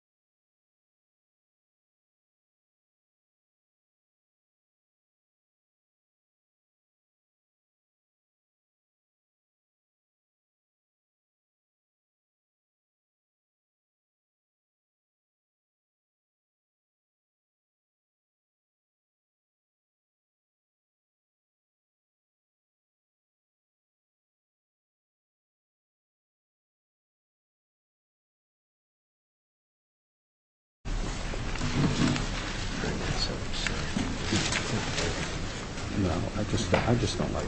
you I Just I just don't like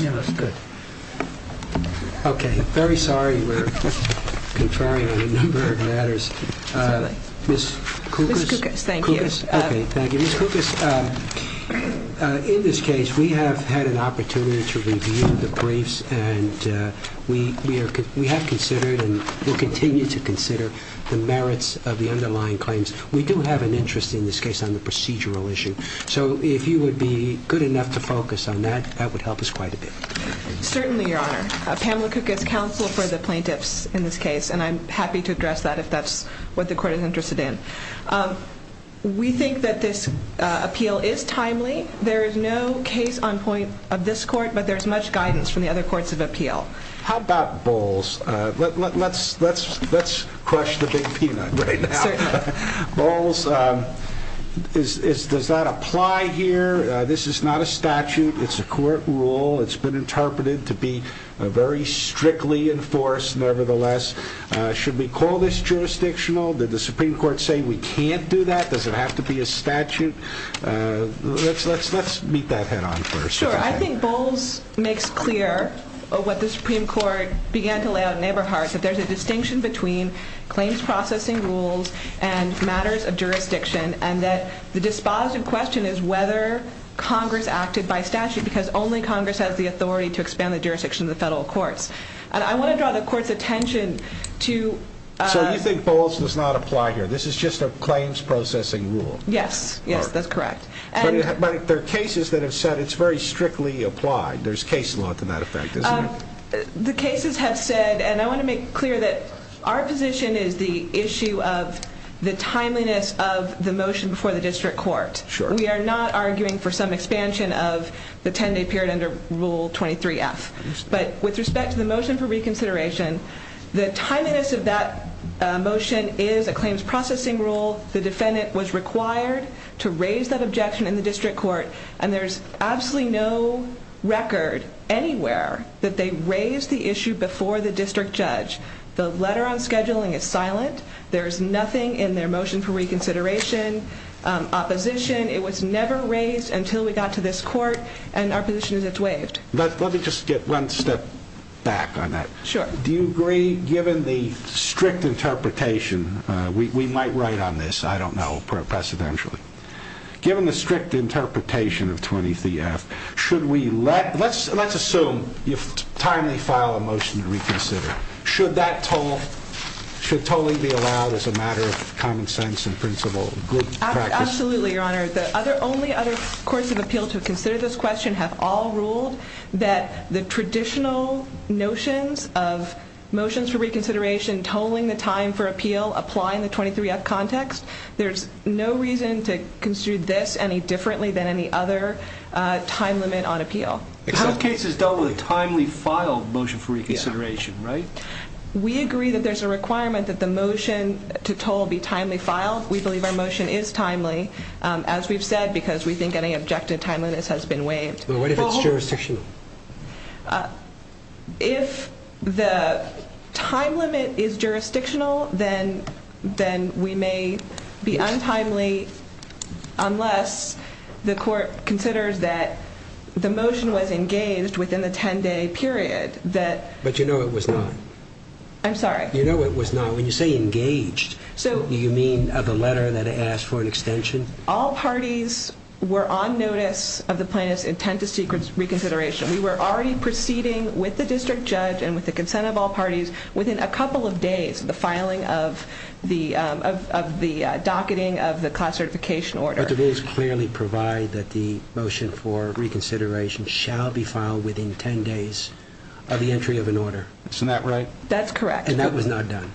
Yeah Okay Okay, very sorry we're Conferring on a number of matters Miss Thank you In this case we have had an opportunity to review the briefs and We we have considered and will continue to consider the merits of the underlying claims We do have an interest in this case on the procedural issue So if you would be good enough to focus on that that would help us quite a bit Certainly your honor Pamela cook is counsel for the plaintiffs in this case And I'm happy to address that if that's what the court is interested in We think that this appeal is timely there is no case on point of this court But there's much guidance from the other courts of appeal. How about bowls? Let's let's let's crush the big peanut balls Is does that apply here this is not a statute it's a court rule It's been interpreted to be a very strictly enforced nevertheless Should we call this jurisdictional that the Supreme Court say we can't do that. Does it have to be a statute? Let's let's let's meet that head-on first I think bowls makes clear what the Supreme Court began to lay out neighbor hearts that there's a distinction between Claims-processing rules and matters of jurisdiction and that the dispositive question is whether Congress acted by statute because only Congress has the authority to expand the jurisdiction of the federal courts And I want to draw the court's attention to so you think bowls does not apply here. This is just a claims-processing rule Yes, yes, that's correct, but there are cases that have said it's very strictly applied. There's case law to that effect The cases have said and I want to make clear that our position is the issue of The timeliness of the motion before the district court Sure, we are not arguing for some expansion of the 10-day period under rule 23 F But with respect to the motion for reconsideration the timeliness of that Motion is a claims-processing rule. The defendant was required to raise that objection in the district court and there's absolutely no Record anywhere that they raised the issue before the district judge. The letter on scheduling is silent There's nothing in their motion for reconsideration Opposition it was never raised until we got to this court and our position is it's waived But let me just get one step back on that. Sure. Do you agree given the strict interpretation? We might write on this. I don't know Given the strict interpretation of 23 F should we let let's let's assume you've timely file a motion to reconsider Should that toll? Should totally be allowed as a matter of common sense and principle Absolutely, your honor the other only other courts of appeal to consider this question have all ruled that the traditional notions of No reason to construe this any differently than any other Time limit on appeal the whole case is done with a timely file motion for reconsideration, right? We agree that there's a requirement that the motion to toll be timely file We believe our motion is timely as we've said because we think any objective timeliness has been waived. What if it's jurisdiction? If the Time-limit is jurisdictional then then we may be untimely unless The court considers that the motion was engaged within the 10-day period that but you know, it was not I'm sorry, you know, it was not when you say engaged So you mean of the letter that asked for an extension all parties were on notice of the plaintiff's intent to seek reconsideration we were already proceeding with the district judge and with the consent of all parties within a couple of days the filing of the the docketing of the class certification order The rules clearly provide that the motion for reconsideration shall be filed within 10 days of the entry of an order It's not right. That's correct. And that was not done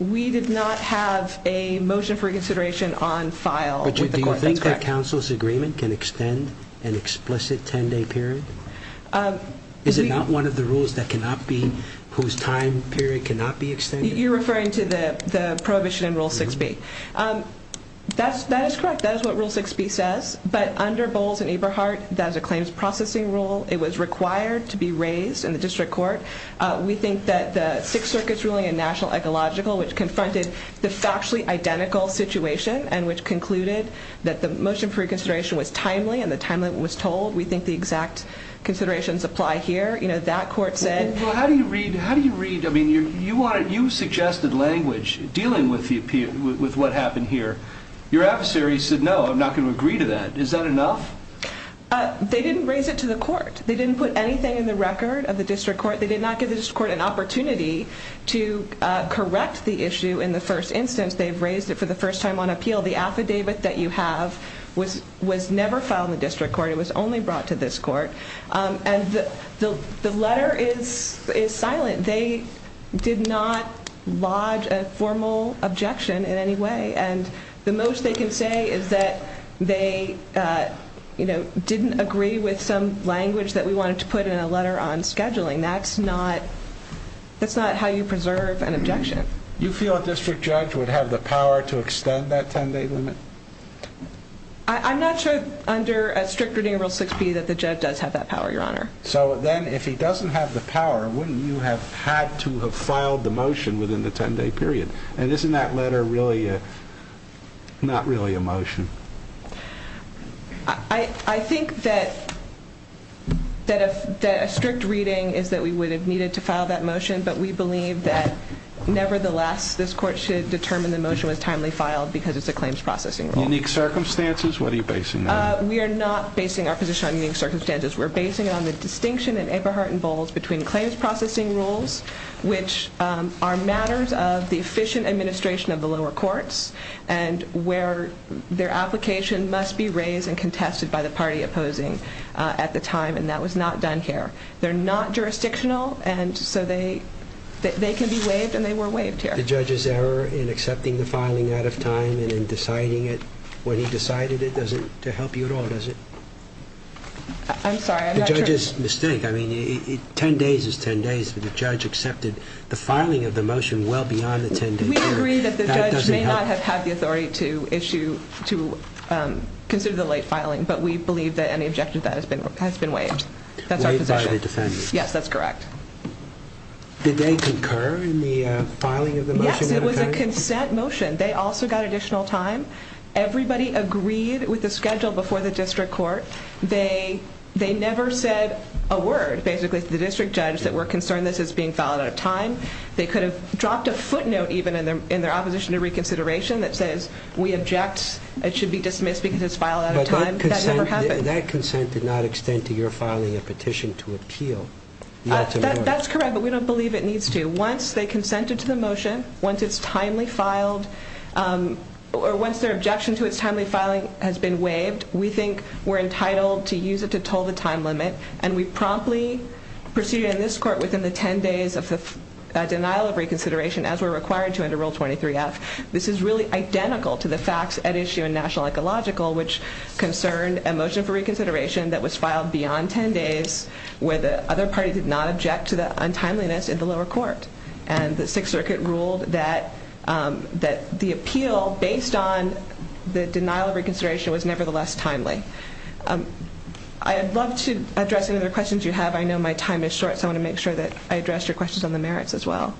We did not have a motion for consideration on file Counsel's agreement can extend an explicit 10-day period Is it not one of the rules that cannot be whose time period cannot be extended? You're referring to the the prohibition in rule 6b That's that is correct. That is what rule 6b says but under Bowles and Eberhardt that is a claims processing rule It was required to be raised in the district court We think that the Sixth Circuit's ruling in national ecological which confronted the factually identical Situation and which concluded that the motion for reconsideration was timely and the time limit was told we think the exact Considerations apply here, you know that court said how do you read? How do you read? I mean you you wanted you suggested language dealing with the appeal with what happened here your adversary said no I'm not going to agree to that. Is that enough? They didn't raise it to the court. They didn't put anything in the record of the district court They did not give this court an opportunity to correct the issue in the first instance They've raised it for the first time on appeal the affidavit that you have was was never filed in the district court It was only brought to this court and the the letter is is silent. They did not lodge a formal objection in any way and the most they can say is that they You know didn't agree with some language that we wanted to put in a letter on scheduling. That's not That's not how you preserve an objection you feel a district judge would have the power to extend that 10-day limit I'm not sure under a strict reading rule 6p that the judge does have that power your honor so then if he doesn't have the power wouldn't you have had to have filed the motion within the 10-day period and isn't that letter really Not really a motion. I Think that That if a strict reading is that we would have needed to file that motion, but we believe that Nevertheless this court should determine the motion was timely filed because it's a claims processing unique circumstances. What are you basing? We are not basing our position on unique circumstances We're basing it on the distinction in Eberhardt and Bowles between claims processing rules which are matters of the efficient administration of the lower courts and Where their application must be raised and contested by the party opposing at the time and that was not done here they're not jurisdictional and so they They can be waived and they were waived here The judge's error in accepting the filing out of time and in deciding it when he decided it doesn't to help you at all Does it? I'm sorry. I'm just mistake I mean it 10 days is 10 days for the judge accepted the filing of the motion well beyond the 10-day May not have had the authority to issue to Consider the late filing, but we believe that any objective that has been has been waived. That's our position. Yes, that's correct Did they concur in the filing of the motion? Yes, it was a consent motion. They also got additional time Everybody agreed with the schedule before the district court They they never said a word basically the district judge that were concerned This is being filed at a time They could have dropped a footnote even and they're in their opposition to reconsideration that says we object It should be dismissed because it's filed out of time That consent did not extend to your filing a petition to appeal That's correct, but we don't believe it needs to once they consented to the motion once it's timely filed Or once their objection to its timely filing has been waived We think we're entitled to use it to toll the time limit and we promptly Proceeded in this court within the 10 days of the denial of reconsideration as we're required to enter rule 23 F This is really identical to the facts at issue in national ecological which concerned a motion for reconsideration That was filed beyond 10 days where the other party did not object to the untimeliness in the lower court and the Sixth Circuit ruled that That the appeal based on the denial of reconsideration was nevertheless timely I Have loved to address another questions you have I know my time is short So I want to make sure that I addressed your questions on the merits as well.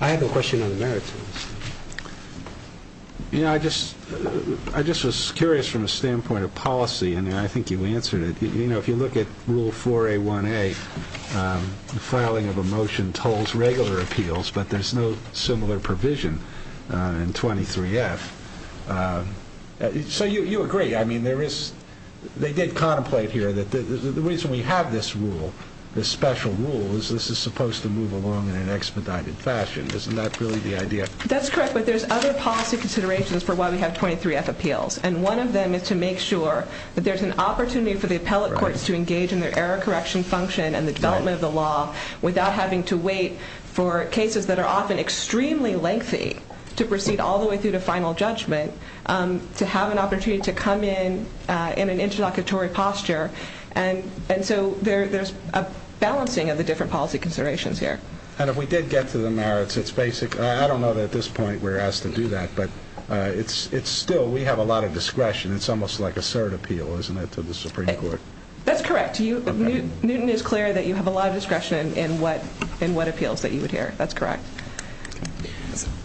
I Have a question on the merits You know, I just I just was curious from a standpoint of policy and I think you answered it You know, if you look at rule 4a 1a The filing of a motion tolls regular appeals, but there's no similar provision in 23 F So you you agree, I mean there is They did contemplate here that the reason we have this rule The special rule is this is supposed to move along in an expedited fashion. Isn't that really the idea? That's correct But there's other policy considerations for why we have 23 F appeals and one of them is to make sure That there's an opportunity for the appellate courts to engage in their error correction function and the development of the law Without having to wait for cases that are often extremely lengthy to proceed all the way through to final judgment to have an opportunity to come in in an interlocutory posture and and so there there's a Balancing of the different policy considerations here and if we did get to the merits, it's basic I don't know that at this point. We're asked to do that. But it's it's still we have a lot of discretion It's almost like a cert appeal isn't it to the Supreme Court? That's correct Do you Newton is clear that you have a lot of discretion in what in what appeals that you would hear? That's correct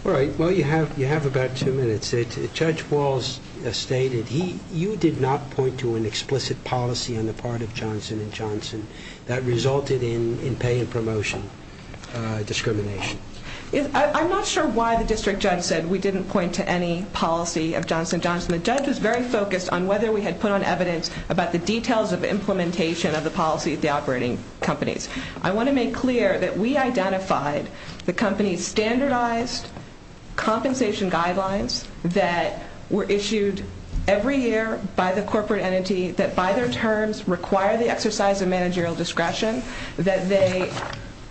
All right Well, you have you have about two minutes it judge Walls Stated he you did not point to an explicit policy on the part of Johnson and Johnson that resulted in in pay and promotion Discrimination is I'm not sure why the district judge said we didn't point to any policy of Johnson Johnson The judge was very focused on whether we had put on evidence about the details of implementation of the policy of the operating companies I want to make clear that we identified the company's standardized compensation guidelines that were issued every year by the corporate entity that by their terms require the exercise of managerial discretion that they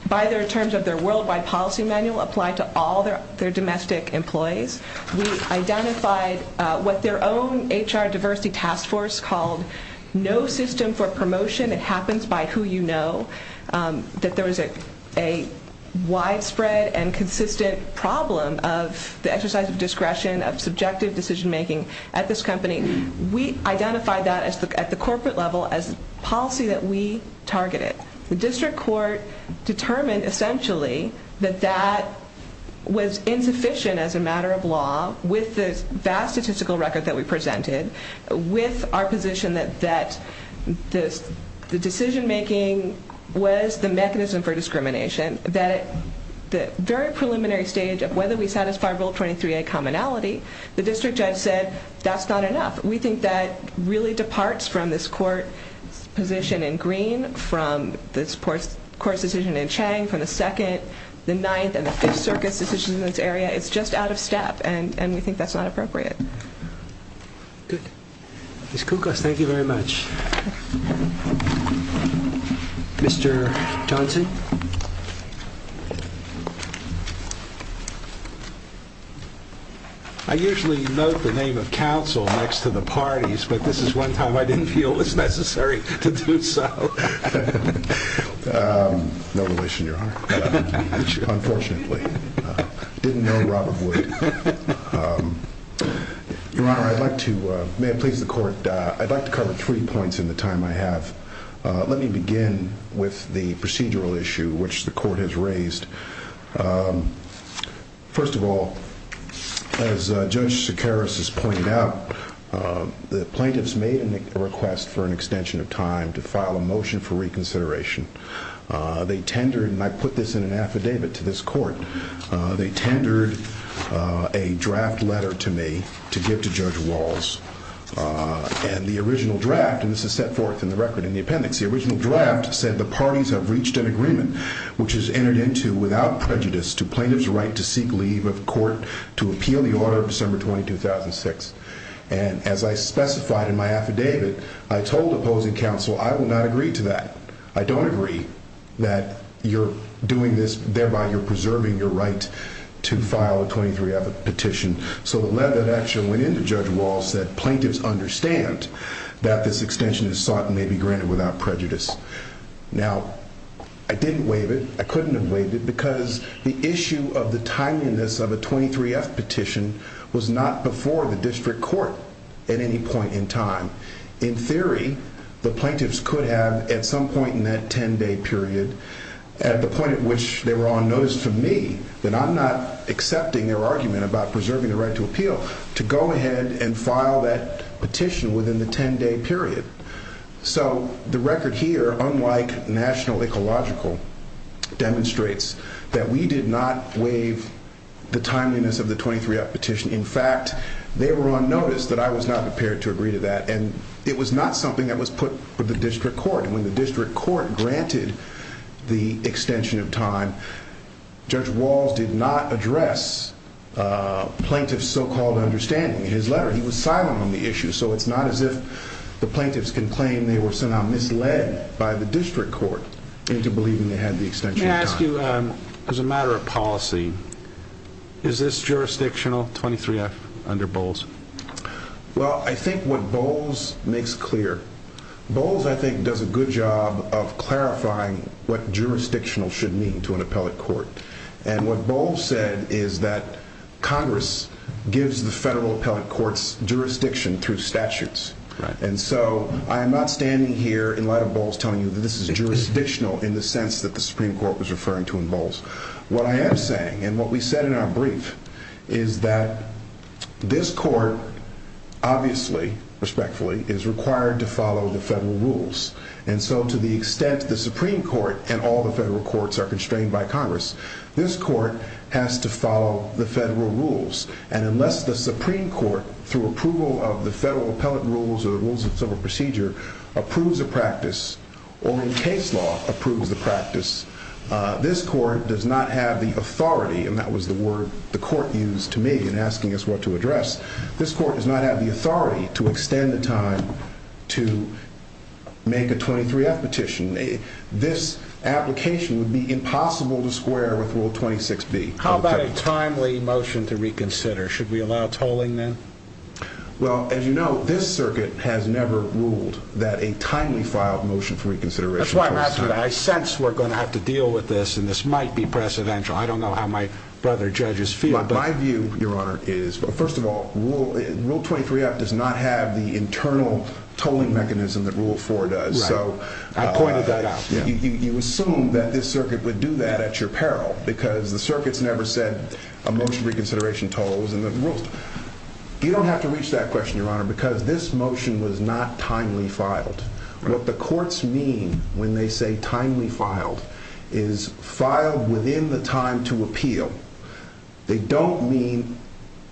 By their terms of their worldwide policy manual applied to all their their domestic employees We identified what their own HR diversity task force called no system for promotion It happens by who you know that there was a widespread and consistent problem of the exercise of discretion of subjective decision-making at this company we Identified that as the at the corporate level as policy that we targeted the district court determined essentially that that was insufficient as a matter of law with the vast statistical record that we presented with our position that that this the decision-making Was the mechanism for discrimination that the very preliminary stage of whether we satisfy rule 23 a commonality The district judge said that's not enough. We think that really departs from this court Position in green from this course course decision in Chang from the second the ninth and the fifth Circus decisions in this area It's just out of step and and we think that's not appropriate Good, it's cool guys. Thank you very much I Usually know the name of counsel next to the parties, but this is one time I didn't feel it's necessary to do so No relation your honor I'd like to may it please the court. I'd like to cover three points in the time. I have Let me begin with the procedural issue, which the court has raised First of all as judge Sakaris has pointed out The plaintiffs made a request for an extension of time to file a motion for reconsideration They tendered and I put this in an affidavit to this court they tendered a draft letter to me to give to Judge Walls And the original draft and this is set forth in the record in the appendix the original draft said the parties have reached an agreement Which is entered into without prejudice to plaintiffs right to seek leave of court to appeal the order of December 22006 and as I specified in my affidavit, I told opposing counsel. I will not agree to that I don't agree that you're doing this thereby you're preserving your right to file a 23-f petition So the lead that actually in the judge wall said plaintiffs understand that this extension is sought and may be granted without prejudice Now I didn't waive it I couldn't have waived it because the issue of the timeliness of a 23-f petition was not before the district court at any point in time In theory, the plaintiffs could have at some point in that 10-day period At the point at which they were on notice to me that I'm not Accepting their argument about preserving the right to appeal to go ahead and file that petition within the 10-day period So the record here unlike National Ecological Demonstrates that we did not waive The timeliness of the 23-f petition in fact They were on notice that I was not prepared to agree to that and it was not something that was put with the district Court when the district court granted the extension of time Judge Walls did not address Plaintiffs so-called understanding in his letter. He was silent on the issue So it's not as if the plaintiffs can claim they were somehow misled by the district court into believing they had the extension May I ask you as a matter of policy Is this jurisdictional 23-f under Bowles? Well, I think what Bowles makes clear Bowles I think does a good job of clarifying what jurisdictional should mean to an appellate court and what Bowles said is that Congress gives the federal appellate courts jurisdiction through statutes Right and so I am not standing here in light of Bowles telling you that this is jurisdictional in the sense that the Supreme Court was referring to in Bowles what I am saying and what we said in our brief is that this court Obviously respectfully is required to follow the federal rules And so to the extent the Supreme Court and all the federal courts are constrained by Congress This court has to follow the federal rules and unless the Supreme Court through approval of the federal appellate rules or rules of civil procedure approves a practice or in case law approves the practice This court does not have the authority and that was the word the court used to me in asking us what to address This court does not have the authority to extend the time to make a 23-f petition this Application would be impossible to square with rule 26b. How about a timely motion to reconsider? Should we allow tolling then? Well, as you know, this circuit has never ruled that a timely filed motion for reconsideration That's why I'm asking I sense we're going to have to deal with this and this might be precedential I don't know how my brother judges feel But my view your honor is but first of all rule rule 23 up does not have the internal Tolling mechanism that rule for does so You assume that this circuit would do that at your peril because the circuits never said a motion reconsideration tolls in the world You don't have to reach that question your honor because this motion was not timely filed What the courts mean when they say timely filed is filed within the time to appeal They don't mean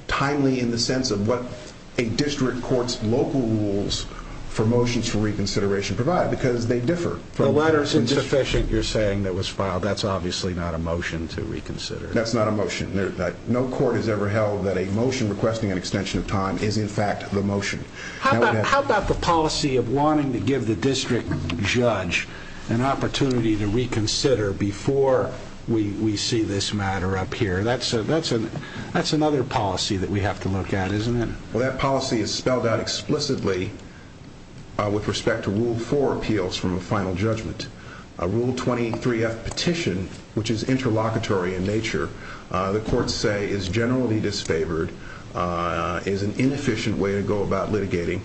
Timely in the sense of what a district courts local rules For motions for reconsideration provide because they differ from letters insufficient. You're saying that was filed That's obviously not a motion to reconsider. That's not a motion There's that no court has ever held that a motion requesting an extension of time is in fact the motion How about the policy of wanting to give the district judge an opportunity to reconsider before? We we see this matter up here, that's a that's an that's another policy that we have to look at isn't it well That policy is spelled out explicitly With respect to rule for appeals from a final judgment a rule 23f petition, which is interlocutory in nature The courts say is generally disfavored Is an inefficient way to go about litigating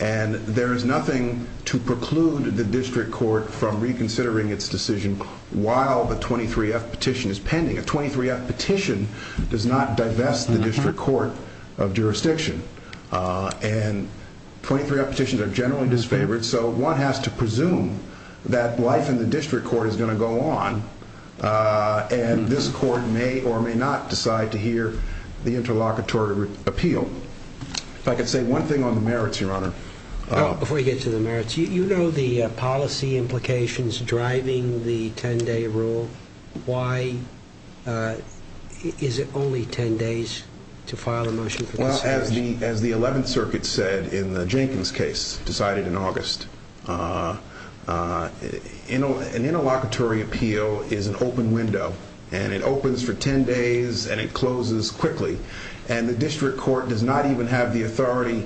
and there is nothing to preclude the district court from reconsidering its decision while the 23f petition is pending a 23f petition does not divest the district court of jurisdiction and 23f petitions are generally disfavored. So one has to presume that life in the district court is going to go on And this court may or may not decide to hear the interlocutory appeal If I could say one thing on the merits your honor Before you get to the merits, you know, the policy implications driving the 10-day rule why Is it only 10 days to file a motion as the as the 11th circuit said in the Jenkins case decided in August You know an interlocutory appeal is an open window and it opens for 10 days and it closes quickly and The district court does not even have the authority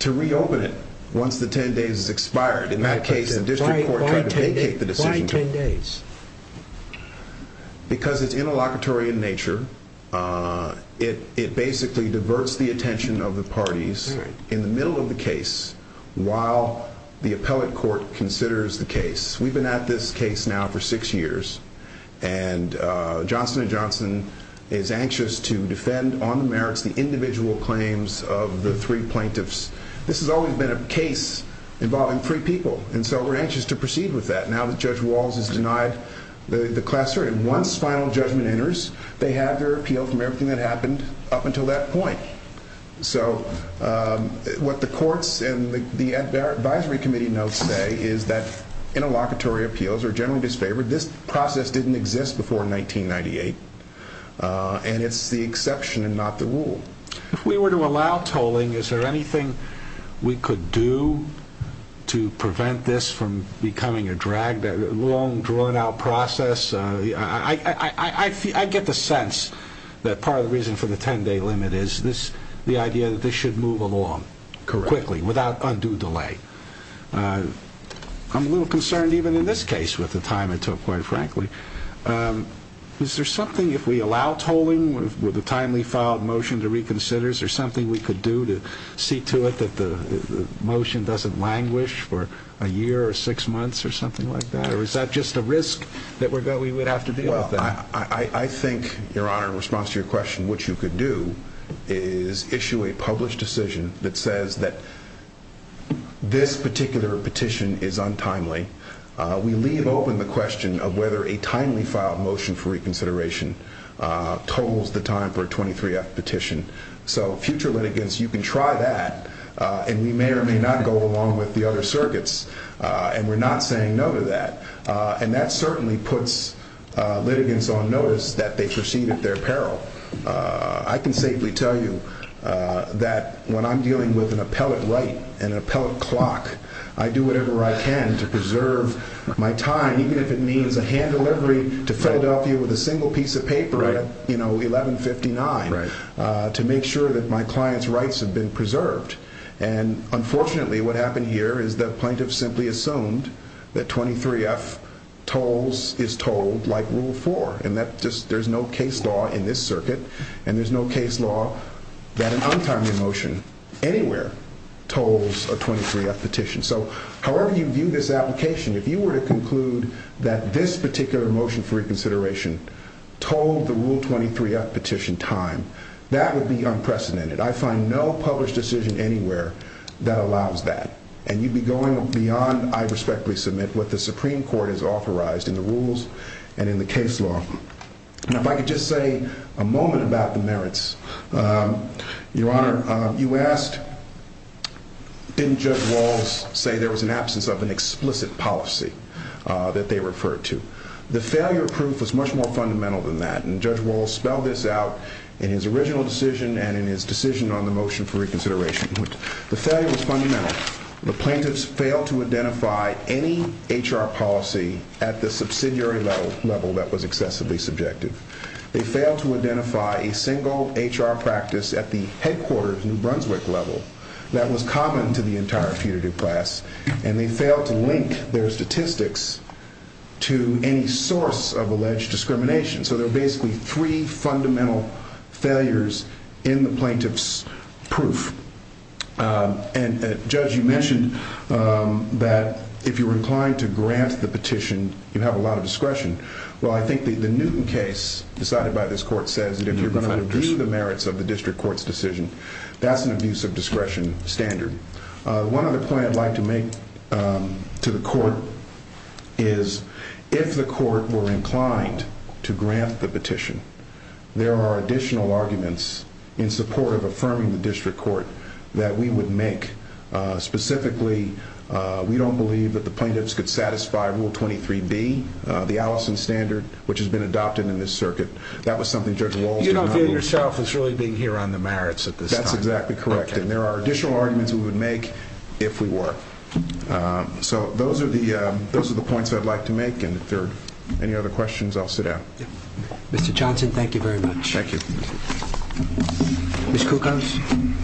to reopen it once the 10 days is expired in that case The district court tried to vacate the decision. Why 10 days? Because it's interlocutory in nature It it basically diverts the attention of the parties in the middle of the case while the appellate court considers the case we've been at this case now for six years and Individual claims of the three plaintiffs. This has always been a case involving three people And so we're anxious to proceed with that now that judge Walls is denied The the class certain once final judgment enters they have their appeal from everything that happened up until that point so what the courts and the Advisory committee notes say is that interlocutory appeals are generally disfavored this process didn't exist before in 1998 And it's the exception and not the rule if we were to allow tolling is there anything we could do To prevent this from becoming a drag that long drawn-out process. Yeah, I Get the sense that part of the reason for the 10-day limit is this the idea that this should move along Quickly without undue delay I'm a little concerned even in this case with the time it took quite frankly Is there something if we allow tolling with the timely filed motion to reconsider is there something we could do to see to it that the Motion doesn't languish for a year or six months or something like that Or is that just a risk that we're going we would have to be well I I think your honor response to your question what you could do is issue a published decision that says that This particular petition is untimely We leave open the question of whether a timely filed motion for reconsideration totals the time for a 23 F petition so future litigants you can try that And we may or may not go along with the other circuits, and we're not saying no to that and that certainly puts Litigants on notice that they proceed at their peril I can safely tell you That when I'm dealing with an appellate right and an appellate clock I do whatever I can to preserve My time even if it means a hand delivery to Philadelphia with a single piece of paper right you know 1159 right to make sure that my clients rights have been preserved and Unfortunately what happened here is the plaintiff simply assumed that 23 F Tolls is told like rule 4 and that just there's no case law in this circuit, and there's no case law That an untimely motion Anywhere tolls a 23 F petition so however you view this application if you were to conclude that this particular motion for reconsideration Told the rule 23 F petition time that would be unprecedented I find no published decision anywhere that allows that and you'd be going beyond I respectfully submit what the Supreme Court is authorized in the rules and in the case law Your honor you asked Didn't judge Walls say there was an absence of an explicit policy That they referred to the failure proof was much more fundamental than that and judge Walls spelled this out in his original decision and in his decision on the motion for reconsideration The failure was fundamental the plaintiffs failed to identify any HR policy at the subsidiary level That was excessively subjective they failed to identify a single HR practice at the headquarters in Brunswick level That was common to the entire putative class and they failed to link their statistics To any source of alleged discrimination, so they're basically three fundamental failures in the plaintiffs proof And judge you mentioned That if you were inclined to grant the petition you have a lot of discretion Well, I think the the Newton case decided by this court says that if you're going to do the merits of the district courts decision That's an abuse of discretion standard one of the plans like to make to the court is If the court were inclined to grant the petition There are additional arguments in support of affirming the district court that we would make Specifically we don't believe that the plaintiffs could satisfy rule 23d the Allison standard which has been adopted in this circuit That was something judge wall You don't feel yourself as really being here on the merits at this that's exactly correct and there are additional arguments We would make if we were So those are the those are the points that I'd like to make and if there any other questions, I'll sit down Mr. Johnson, thank you very much. Thank you Miss Kukons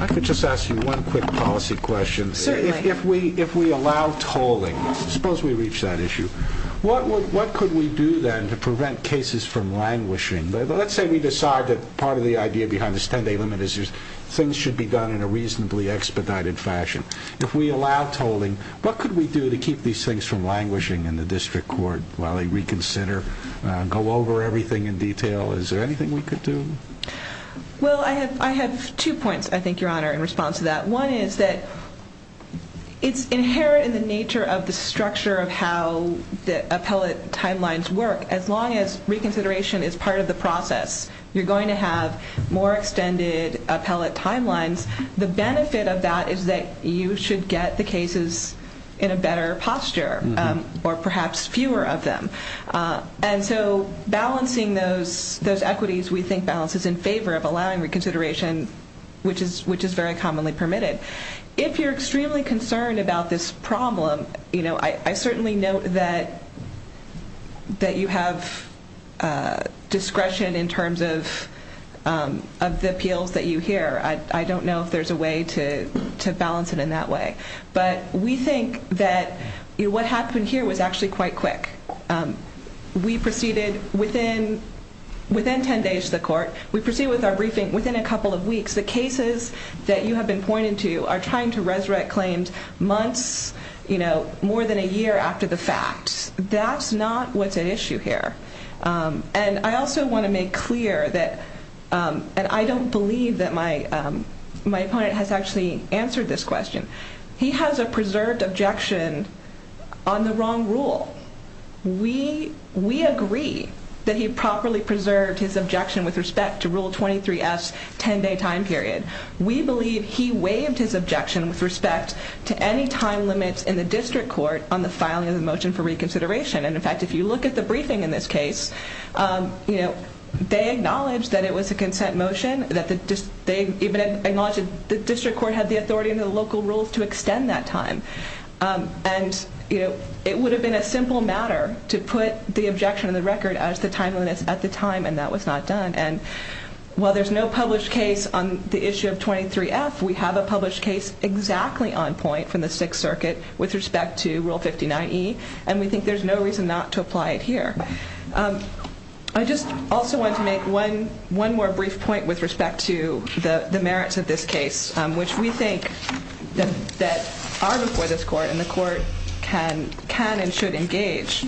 I Could just ask you one quick policy question So if we if we allow tolling suppose we reach that issue What what could we do then to prevent cases from languishing? But let's say we decide that part of the idea behind this 10-day limit is there's things should be done in a reasonably Expedited fashion if we allow tolling what could we do to keep these things from languishing in the district court while they reconsider? Go over everything in detail. Is there anything we could do? Well, I have I have two points. I think your honor in response to that one is that it's inherent in the nature of the structure of how the appellate timelines work as long as Reconsideration is part of the process. You're going to have more extended appellate timelines The benefit of that is that you should get the cases in a better posture or perhaps fewer of them And so balancing those those equities we think balance is in favor of allowing reconsideration Which is which is very commonly permitted if you're extremely concerned about this problem, you know, I certainly know that that you have Discretion in terms of Of the appeals that you hear. I don't know if there's a way to To balance it in that way, but we think that you what happened here was actually quite quick We proceeded within Within 10 days the court we proceed with our briefing within a couple of weeks the cases That you have been pointed to are trying to resurrect claims months, you know more than a year after the fact That's not what's at issue here and I also want to make clear that And I don't believe that my my opponent has actually answered this question. He has a preserved objection on the wrong rule We we agree that he properly preserved his objection with respect to rule 23s 10 day time period We believe he waived his objection with respect to any time limits in the district court on the filing of the motion for reconsideration And in fact, if you look at the briefing in this case You know They acknowledged that it was a consent motion that the just they even Acknowledged the district court had the authority and the local rules to extend that time And you know it would have been a simple matter to put the objection in the record as the time limits at the time and that was not done and While there's no published case on the issue of 23 F We have a published case exactly on point from the Sixth Circuit with respect to rule 59 e and we think there's no reason not to apply it here. I Just also want to make one one more brief point with respect to the the merits of this case, which we think That are before this court and the court can can and should engage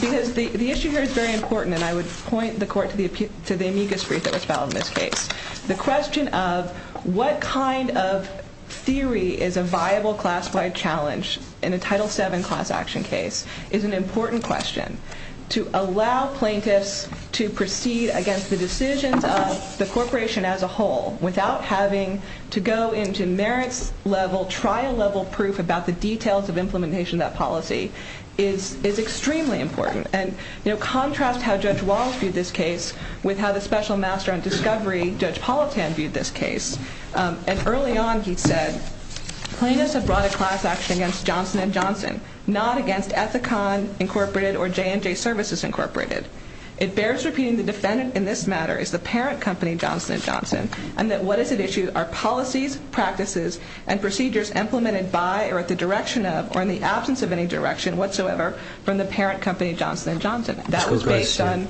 Because the the issue here is very important and I would point the court to the to the amicus brief that was found in this case the question of what kind of Theory is a viable class-wide challenge in a title 7 class action case is an important question To allow plaintiffs to proceed against the decisions of the corporation as a whole without having to go into merits level trial level proof about the details of implementation that policy is Is extremely important and you know contrast how Judge Walsh viewed this case with how the special master on discovery Judge Politan viewed this case and early on he said Plaintiffs have brought a class action against Johnson & Johnson not against Ethicon Incorporated or J&J Services Incorporated it bears repeating the defendant in this matter is the parent company Johnson & Johnson And that what is it issued our policies practices and procedures implemented by or at the direction of or in the absence of any direction? Whatsoever from the parent company Johnson & Johnson that was based on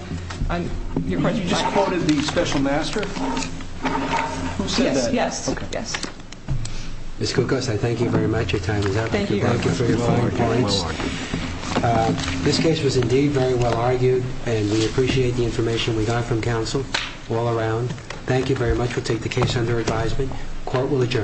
It's good guys, I thank you very much your time This case was indeed very well argued and we appreciate the information we got from counsel all around Thank you very much. We'll take the case under advisement court will adjourn